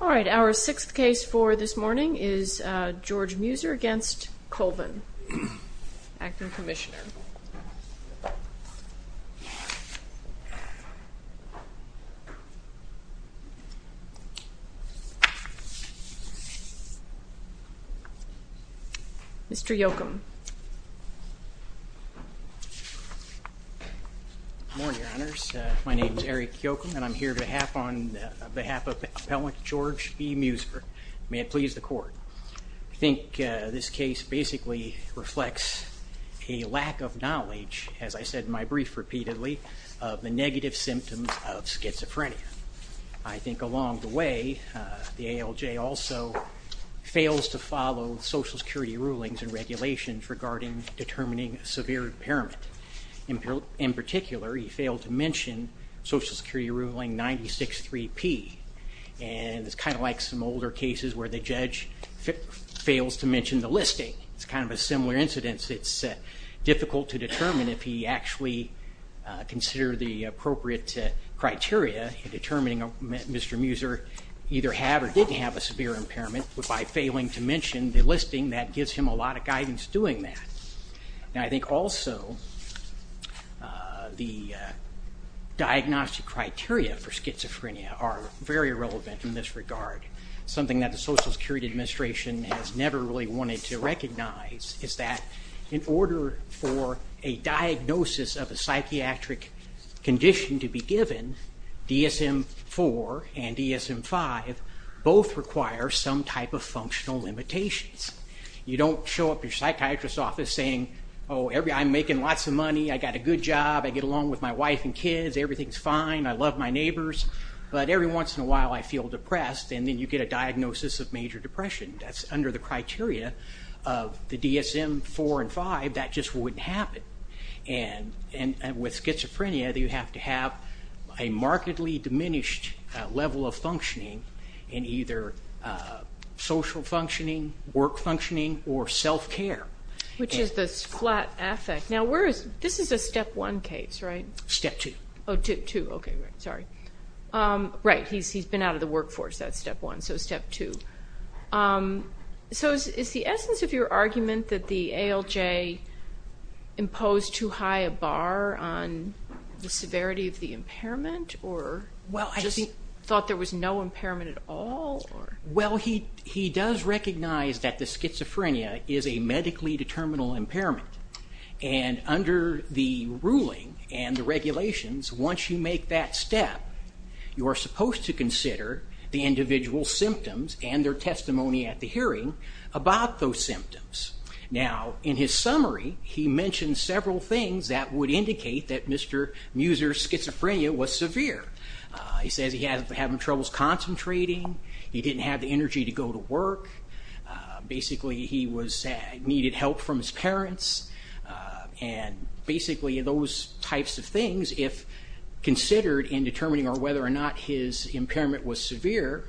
All right, our sixth case for this morning is George Meuser v. Colvin, Acting Commissioner. Mr. Yochum. Good morning, Your Honors. My name is Eric Yochum, and I'm here on behalf of Appellant George B. Meuser. May it please the Court. I think this case basically reflects a lack of knowledge, as I said in my brief repeatedly, of the negative symptoms of schizophrenia. I think along the way, the ALJ also fails to follow Social Security rulings and regulations regarding determining severe impairment. In particular, he failed to mention Social Security Ruling 96-3P. And it's kind of like some older cases where the judge fails to mention the listing. It's kind of a similar incidence. It's difficult to determine if he actually considered the appropriate criteria in determining if Mr. Meuser either had or didn't have a severe impairment. But by failing to mention the listing, that gives him a lot of guidance doing that. And I think also the diagnostic criteria for schizophrenia are very relevant in this regard. Something that the Social Security Administration has never really wanted to recognize is that in order for a diagnosis of a psychiatric condition to be given, DSM-IV and DSM-V both require some type of functional limitations. You don't show up to your psychiatrist's office saying, oh, I'm making lots of money, I got a good job, I get along with my wife and kids, everything's fine, I love my neighbors. But every once in a while I feel depressed, and then you get a diagnosis of major depression. That's under the criteria of the DSM-IV and DSM-V, that just wouldn't happen. And with schizophrenia, you have to have a markedly diminished level of functioning in either social functioning, work functioning, or self-care. Which is the flat affect. Now this is a Step 1 case, right? Step 2. Oh, Step 2, okay, sorry. Right, he's been out of the workforce, that's Step 1, so Step 2. So is the essence of your argument that the ALJ imposed too high a bar on the severity of the impairment, or just thought there was no impairment at all? Well, he does recognize that the schizophrenia is a medically determinable impairment. And under the ruling and the regulations, once you make that step, you are supposed to consider the individual's symptoms and their testimony at the hearing about those symptoms. Now, in his summary, he mentions several things that would indicate that Mr. Muser's schizophrenia was severe. He says he had trouble concentrating, he didn't have the energy to go to work, basically he needed help from his parents, and basically those types of things, if considered in determining whether or not his impairment was severe,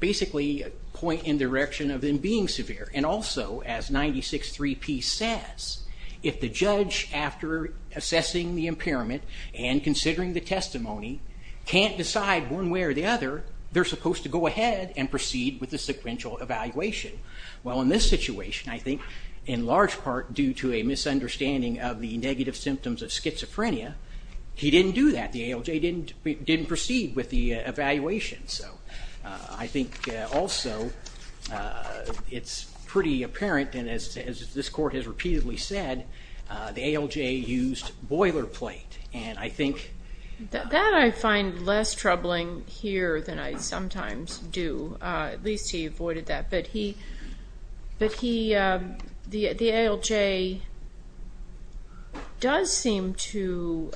basically point in the direction of him being severe. And also, as 96.3p says, if the judge, after assessing the impairment and considering the testimony, can't decide one way or the other, they're supposed to go ahead and proceed with the sequential evaluation. Well, in this situation, I think, in large part due to a misunderstanding of the negative symptoms of schizophrenia, he didn't do that, the ALJ didn't proceed with the evaluation. I think also, it's pretty apparent, and as this court has repeatedly said, the ALJ used boilerplate. That I find less troubling here than I sometimes do. At least he avoided that. But he, the ALJ does seem to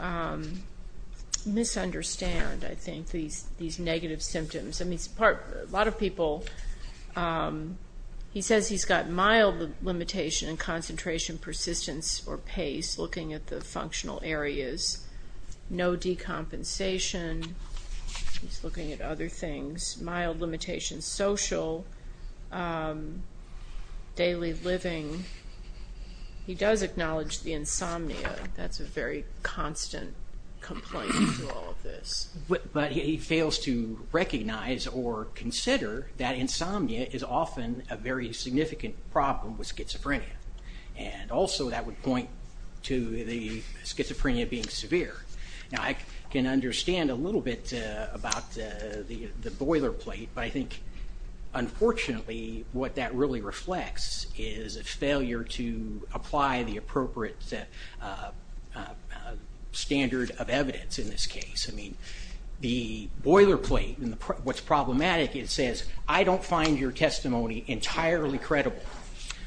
misunderstand, I think, these negative symptoms. I mean, a lot of people, he says he's got mild limitation in concentration, persistence, or pace, looking at the functional areas. No decompensation, he's looking at other things. Mild limitations, social, daily living. He does acknowledge the insomnia, that's a very constant complaint with all of this. But he fails to recognize or consider that insomnia is often a very significant problem with schizophrenia. And also, that would point to the schizophrenia being severe. Now, I can understand a little bit about the boilerplate, but I think, unfortunately, what that really reflects is a failure to apply the appropriate standard of evidence in this case. I mean, the boilerplate, what's problematic, it says, I don't find your testimony entirely credible.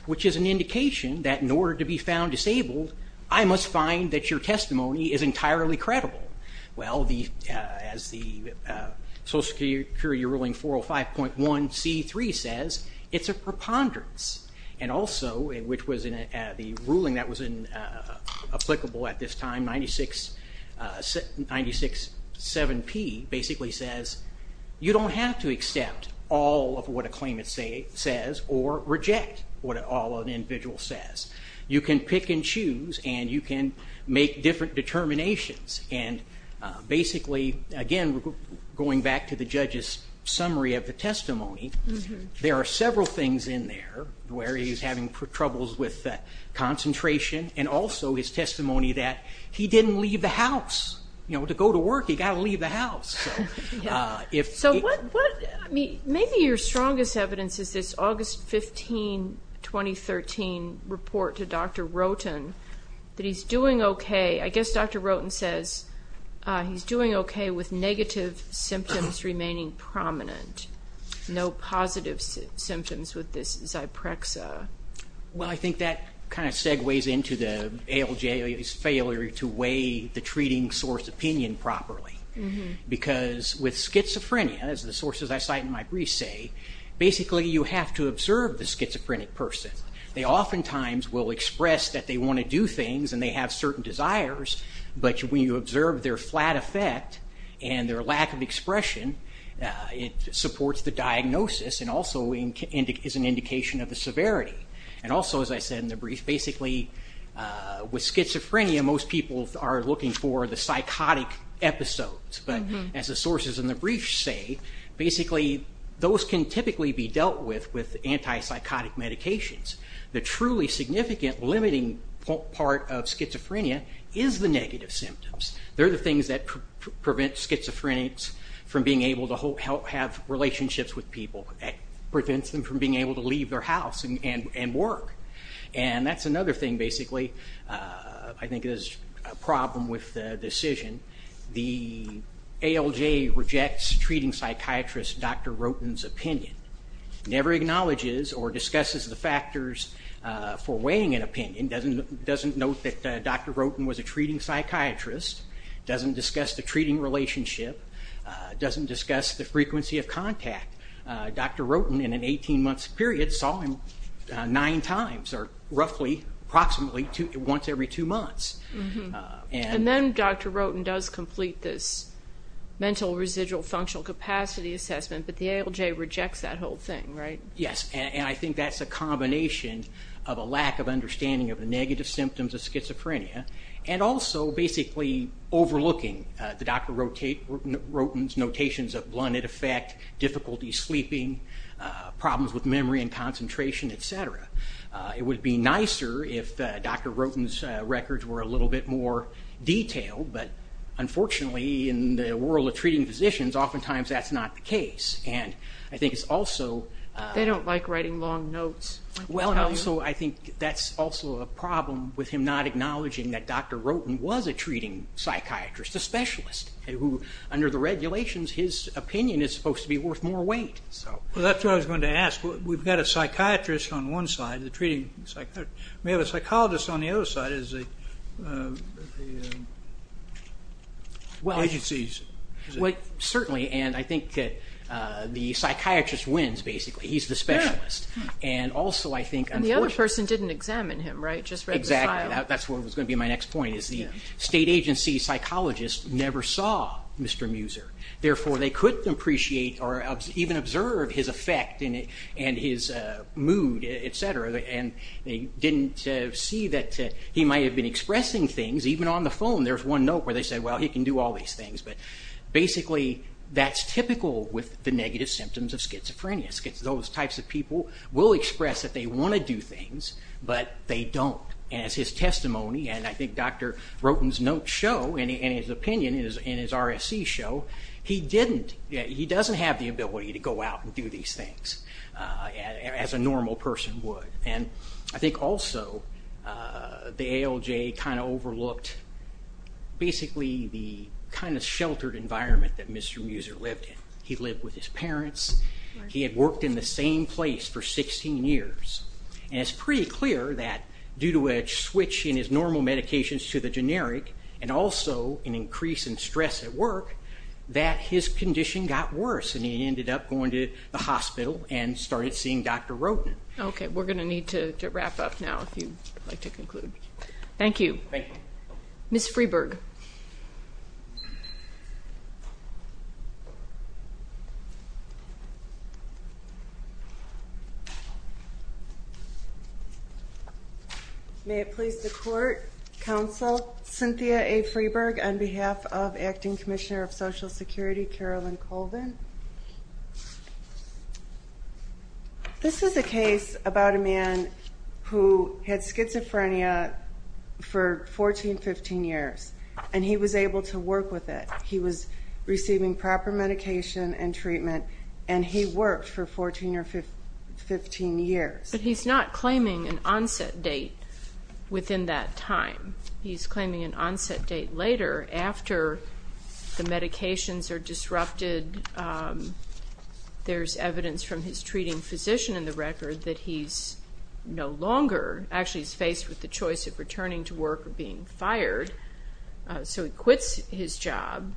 Which is an indication that in order to be found disabled, I must find that your testimony is entirely credible. Well, as the Social Security ruling 405.1c3 says, it's a preponderance. And also, which was in the ruling that was applicable at this time, 96.7p basically says, you don't have to accept all of what a claimant says or reject what all an individual says. You can pick and choose, and you can make different determinations. And basically, again, going back to the judge's summary of the testimony, there are several things in there where he's having troubles with concentration. And also, his testimony that he didn't leave the house. You know, to go to work, he got to leave the house. So, maybe your strongest evidence is this August 15, 2013 report to Dr. Roten that he's doing okay. I guess Dr. Roten says he's doing okay with negative symptoms remaining prominent. No positive symptoms with this Zyprexa. Well, I think that kind of segues into the ALJ's failure to weigh the treating source opinion properly. Because with schizophrenia, as the sources I cite in my brief say, basically you have to observe the schizophrenic person. They oftentimes will express that they want to do things and they have certain desires, but when you observe their flat effect and their lack of expression, it supports the diagnosis and also is an indication of the severity. And also, as I said in the brief, basically with schizophrenia, most people are looking for the psychotic episodes. But as the sources in the brief say, basically those can typically be dealt with with antipsychotic medications. The truly significant limiting part of schizophrenia is the negative symptoms. They're the things that prevent schizophrenics from being able to have relationships with people. It prevents them from being able to leave their house and work. And that's another thing, basically, I think is a problem with the decision. The ALJ rejects treating psychiatrist Dr. Roten's opinion. It never acknowledges or discusses the factors for weighing an opinion. It doesn't note that Dr. Roten was a treating psychiatrist. It doesn't discuss the treating relationship. It doesn't discuss the frequency of contact. Dr. Roten, in an 18-month period, saw him nine times or roughly approximately once every two months. And then Dr. Roten does complete this mental residual functional capacity assessment, but the ALJ rejects that whole thing, right? Yes, and I think that's a combination of a lack of understanding of the negative symptoms of schizophrenia and also basically overlooking the Dr. Roten's notations of blunted effect, difficulty sleeping, problems with memory and concentration, et cetera. It would be nicer if Dr. Roten's records were a little bit more detailed, but unfortunately in the world of treating physicians, oftentimes that's not the case. They don't like writing long notes. Well, and also I think that's also a problem with him not acknowledging that Dr. Roten was a treating psychiatrist, a specialist who, under the regulations, his opinion is supposed to be worth more weight. Well, that's what I was going to ask. We've got a psychiatrist on one side, the treating psychiatrist. We have a psychologist on the other side. Well, certainly, and I think that the psychiatrist wins, basically. He's the specialist. And also I think unfortunately- And the other person didn't examine him, right, just read the file? Exactly. That's what was going to be my next point is the state agency psychologist never saw Mr. Muser. Therefore, they couldn't appreciate or even observe his effect and his mood, et cetera, and they didn't see that he might have been expressing things even on the phone. There's one note where they said, well, he can do all these things, but basically that's typical with the negative symptoms of schizophrenia. Those types of people will express that they want to do things, but they don't. And as his testimony and I think Dr. Roten's notes show and his opinion and his RSC show, he doesn't have the ability to go out and do these things as a normal person would. And I think also the ALJ kind of overlooked basically the kind of sheltered environment that Mr. Muser lived in. He lived with his parents. He had worked in the same place for 16 years. And it's pretty clear that due to a switch in his normal medications to the generic and also an increase in stress at work that his condition got worse and he ended up going to the hospital and started seeing Dr. Roten. Okay. We're going to need to wrap up now if you'd like to conclude. Thank you. Thank you. Ms. Freeburg. May it please the Court, Counsel Cynthia A. Freeburg, on behalf of Acting Commissioner of Social Security Carolyn Colvin. This is a case about a man who had schizophrenia for 14, 15 years. And he was able to work with it. He was receiving proper medication and treatment, and he worked for 14 or 15 years. But he's not claiming an onset date within that time. He's claiming an onset date later after the medications are disrupted. There's evidence from his treating physician in the record that he's no longer, actually he's faced with the choice of returning to work or being fired. So he quits his job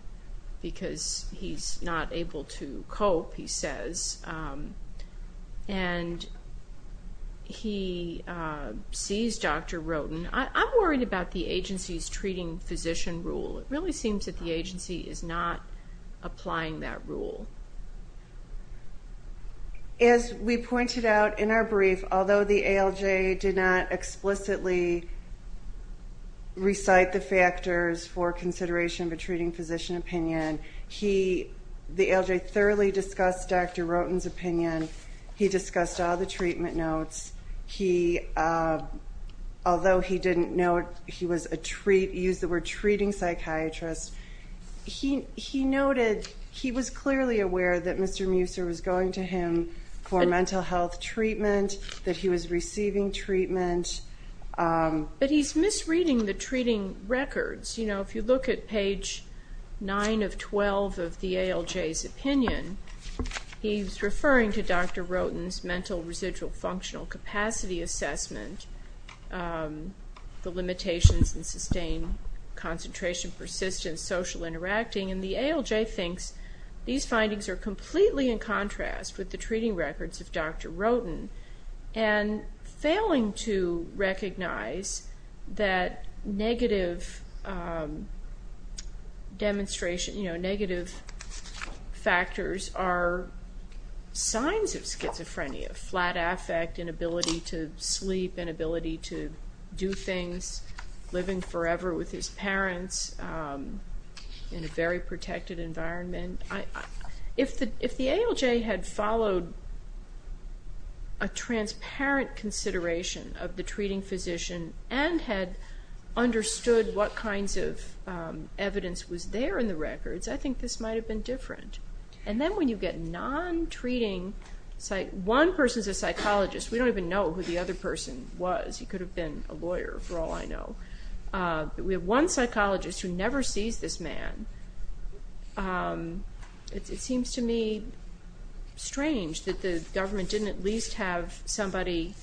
because he's not able to cope, he says. And he sees Dr. Roten. I'm worried about the agency's treating physician rule. It really seems that the agency is not applying that rule. As we pointed out in our brief, although the ALJ did not explicitly recite the factors for consideration of a treating physician opinion, the ALJ thoroughly discussed Dr. Roten's opinion. He discussed all the treatment notes. Although he didn't use the word treating psychiatrist, he noted he was clearly aware that Mr. Muser was going to him for mental health treatment, that he was receiving treatment. But he's misreading the treating records. If you look at page 9 of 12 of the ALJ's opinion, he's referring to Dr. Roten's mental residual functional capacity assessment, the limitations in sustained concentration, persistence, social interacting. And the ALJ thinks these findings are completely in contrast with the treating records of Dr. Roten. And failing to recognize that negative demonstration, negative factors are signs of schizophrenia, a flat affect, inability to sleep, inability to do things, living forever with his parents in a very protected environment. If the ALJ had followed a transparent consideration of the treating physician and had understood what kinds of evidence was there in the records, I think this might have been different. And then when you get non-treating... One person's a psychologist. We don't even know who the other person was. He could have been a lawyer, for all I know. We have one psychologist who never sees this man. It seems to me strange that the government didn't at least have somebody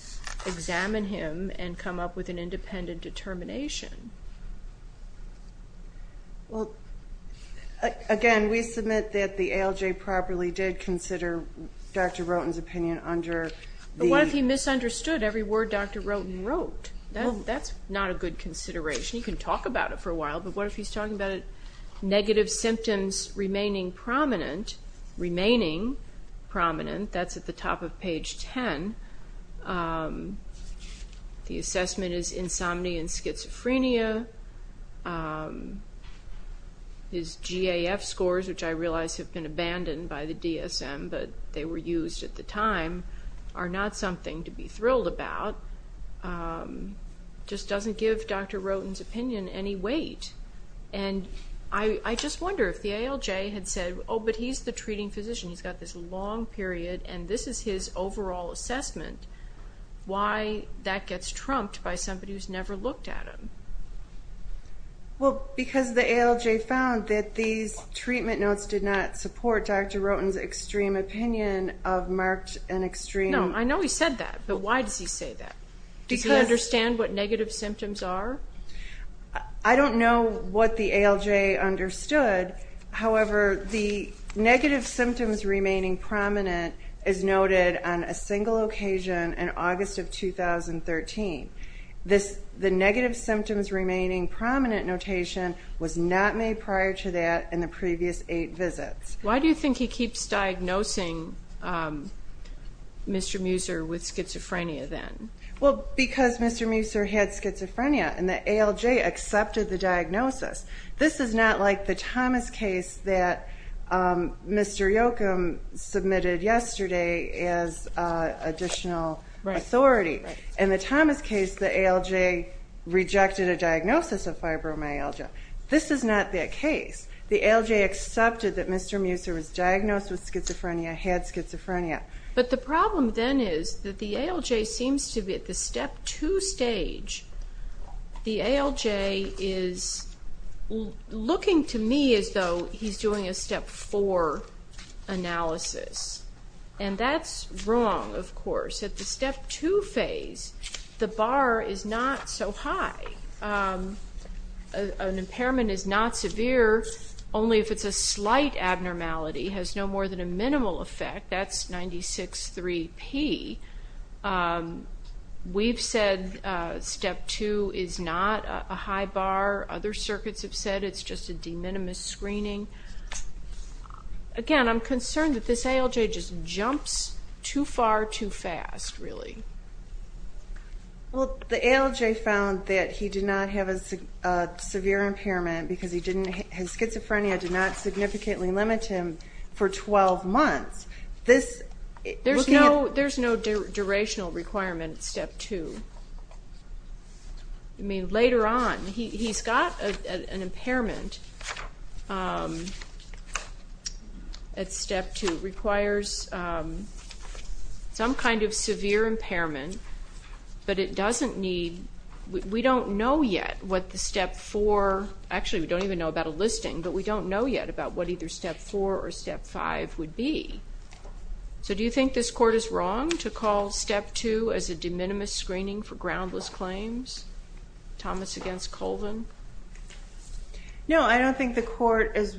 examine him and come up with an independent determination. Well, again, we submit that the ALJ properly did consider Dr. Roten's opinion under the... But what if he misunderstood every word Dr. Roten wrote? That's not a good consideration. He can talk about it for a while, but what if he's talking about negative symptoms remaining prominent, that's at the top of page 10. The assessment is insomnia and schizophrenia. His GAF scores, which I realize have been abandoned by the DSM, but they were used at the time, are not something to be thrilled about. It just doesn't give Dr. Roten's opinion any weight. And I just wonder if the ALJ had said, Oh, but he's the treating physician, he's got this long period, and this is his overall assessment, why that gets trumped by somebody who's never looked at him. Well, because the ALJ found that these treatment notes did not support Dr. Roten's extreme opinion of marked and extreme... No, I know he said that, but why does he say that? Does he understand what negative symptoms are? I don't know what the ALJ understood. However, the negative symptoms remaining prominent is noted on a single occasion in August of 2013. The negative symptoms remaining prominent notation was not made prior to that in the previous eight visits. Why do you think he keeps diagnosing Mr. Muser with schizophrenia then? Well, because Mr. Muser had schizophrenia, and the ALJ accepted the diagnosis. This is not like the Thomas case that Mr. Yochum submitted yesterday as additional authority. In the Thomas case, the ALJ rejected a diagnosis of fibromyalgia. This is not that case. The ALJ accepted that Mr. Muser was diagnosed with schizophrenia, had schizophrenia. But the problem then is that the ALJ seems to be at the Step 2 stage. The ALJ is looking to me as though he's doing a Step 4 analysis, and that's wrong, of course. At the Step 2 phase, the bar is not so high. An impairment is not severe, only if it's a slight abnormality, has no more than a minimal effect. That's 96.3 P. We've said Step 2 is not a high bar. Other circuits have said it's just a de minimis screening. Again, I'm concerned that this ALJ just jumps too far too fast, really. Well, the ALJ found that he did not have a severe impairment because his schizophrenia did not significantly limit him for 12 months. There's no durational requirement at Step 2. I mean, later on, he's got an impairment at Step 2. It requires some kind of severe impairment, but it doesn't need – we don't know yet what the Step 4 – actually, we don't even know about a listing, but we don't know yet about what either Step 4 or Step 5 would be. So do you think this court is wrong to call Step 2 as a de minimis screening for groundless claims? Thomas against Colvin? No, I don't think the court is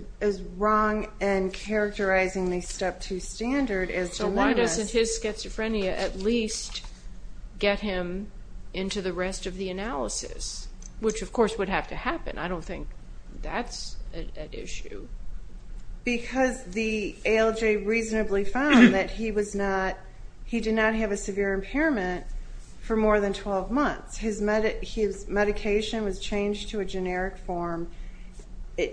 wrong in characterizing the Step 2 standard as de minimis. So why doesn't his schizophrenia at least get him into the rest of the analysis, which, of course, would have to happen? I don't think that's an issue. Because the ALJ reasonably found that he was not – he did not have a severe impairment for more than 12 months. His medication was changed to a generic form,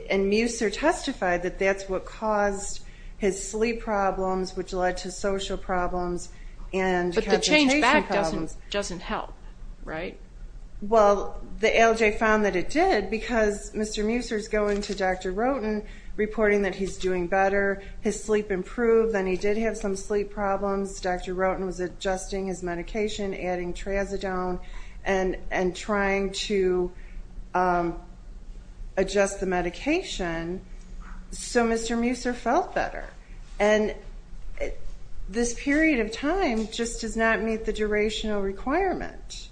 and Muser testified that that's what caused his sleep problems, which led to social problems and concentration problems. But the change back doesn't help, right? Well, the ALJ found that it did because Mr. Muser is going to Dr. Roten, reporting that he's doing better, his sleep improved, and he did have some sleep problems. Dr. Roten was adjusting his medication, adding Trazodone, and trying to adjust the medication. So Mr. Muser felt better. And this period of time just does not meet the durational requirement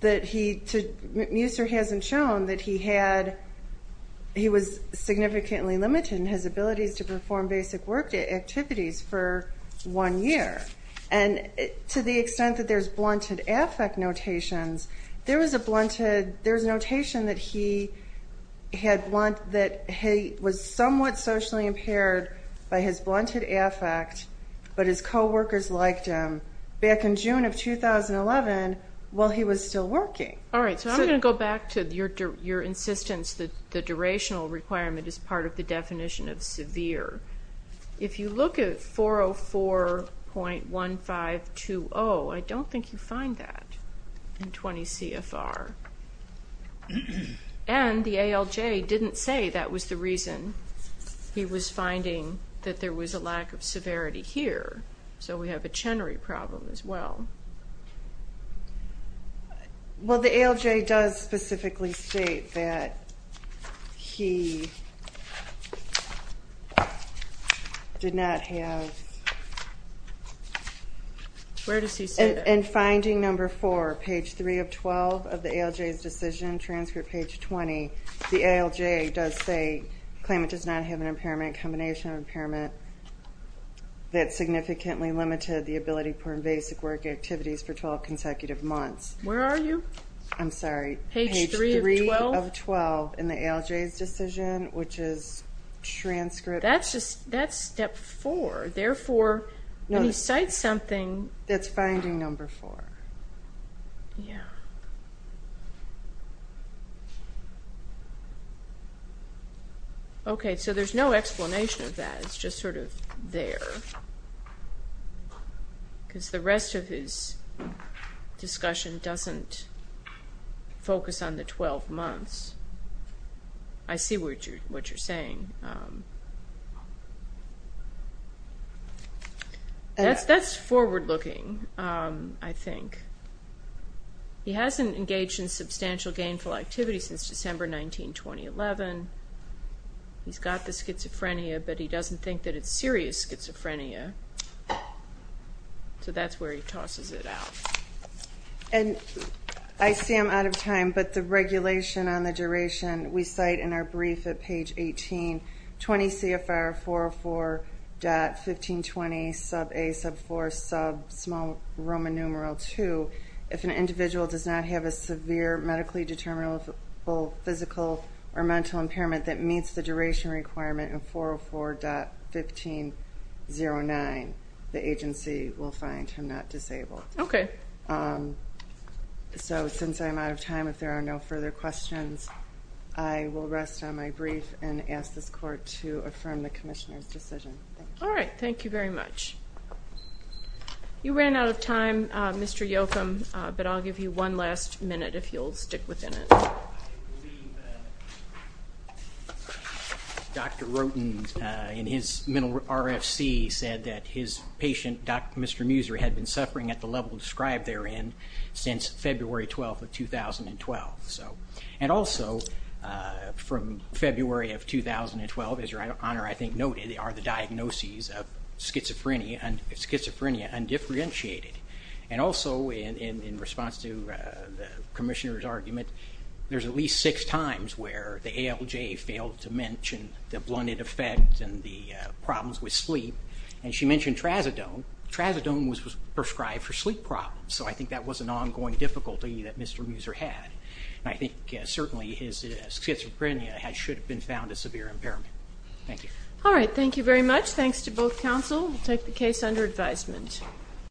that he – Muser hasn't shown that he had – he was significantly limited in his abilities to perform basic work activities for one year. And to the extent that there's blunted affect notations, there was a blunted – there was a notation that he had – that he was somewhat socially impaired by his blunted affect, but his coworkers liked him back in June of 2011 while he was still working. All right, so I'm going to go back to your insistence that the durational requirement is part of the definition of severe. If you look at 404.1520, I don't think you find that in 20CFR. And the ALJ didn't say that was the reason. He was finding that there was a lack of severity here, so we have a Chenery problem as well. Well, the ALJ does specifically state that he did not have – Where does he say that? In finding number 4, page 3 of 12 of the ALJ's decision, transcript page 20, the ALJ does say, claim it does not have an impairment combination of impairment that significantly limited the ability to perform basic work activities for 12 consecutive months. Where are you? I'm sorry. Page 3 of 12? Page 3 of 12 in the ALJ's decision, which is transcript. That's step 4. Therefore, when he cites something – That's finding number 4. Yeah. Okay, so there's no explanation of that. It's just sort of there. Because the rest of his discussion doesn't focus on the 12 months. I see what you're saying. That's forward-looking, I think. He hasn't engaged in substantial gainful activity since December 19, 2011. He's got the schizophrenia, but he doesn't think that it's serious schizophrenia. So that's where he tosses it out. And I see I'm out of time, but the regulation on the duration, we cite in our brief at page 18, 20 CFR 404.1520, sub-A, sub-4, sub-small Roman numeral 2. If an individual does not have a severe medically determinable physical or mental impairment that meets the duration requirement in 404.1509, the agency will find him not disabled. Okay. So since I'm out of time, if there are no further questions, I will rest on my brief and ask this Court to affirm the Commissioner's decision. All right, thank you very much. You ran out of time, Mr. Yochum, but I'll give you one last minute if you'll stick within it. Dr. Roten, in his mental RFC, said that his patient, Mr. Muser, had been suffering at the level described therein since February 12, 2012. And also, from February of 2012, as Your Honor, I think, noted, are the diagnoses of schizophrenia undifferentiated. And also, in response to the Commissioner's argument, there's at least six times where the ALJ failed to mention the blunted effect and the problems with sleep, and she mentioned trazodone. Trazodone was prescribed for sleep problems, so I think that was an ongoing difficulty that Mr. Muser had. And I think certainly his schizophrenia should have been found as severe impairment. Thank you. All right, thank you very much. Thanks to both counsel. We'll take the case under advisement.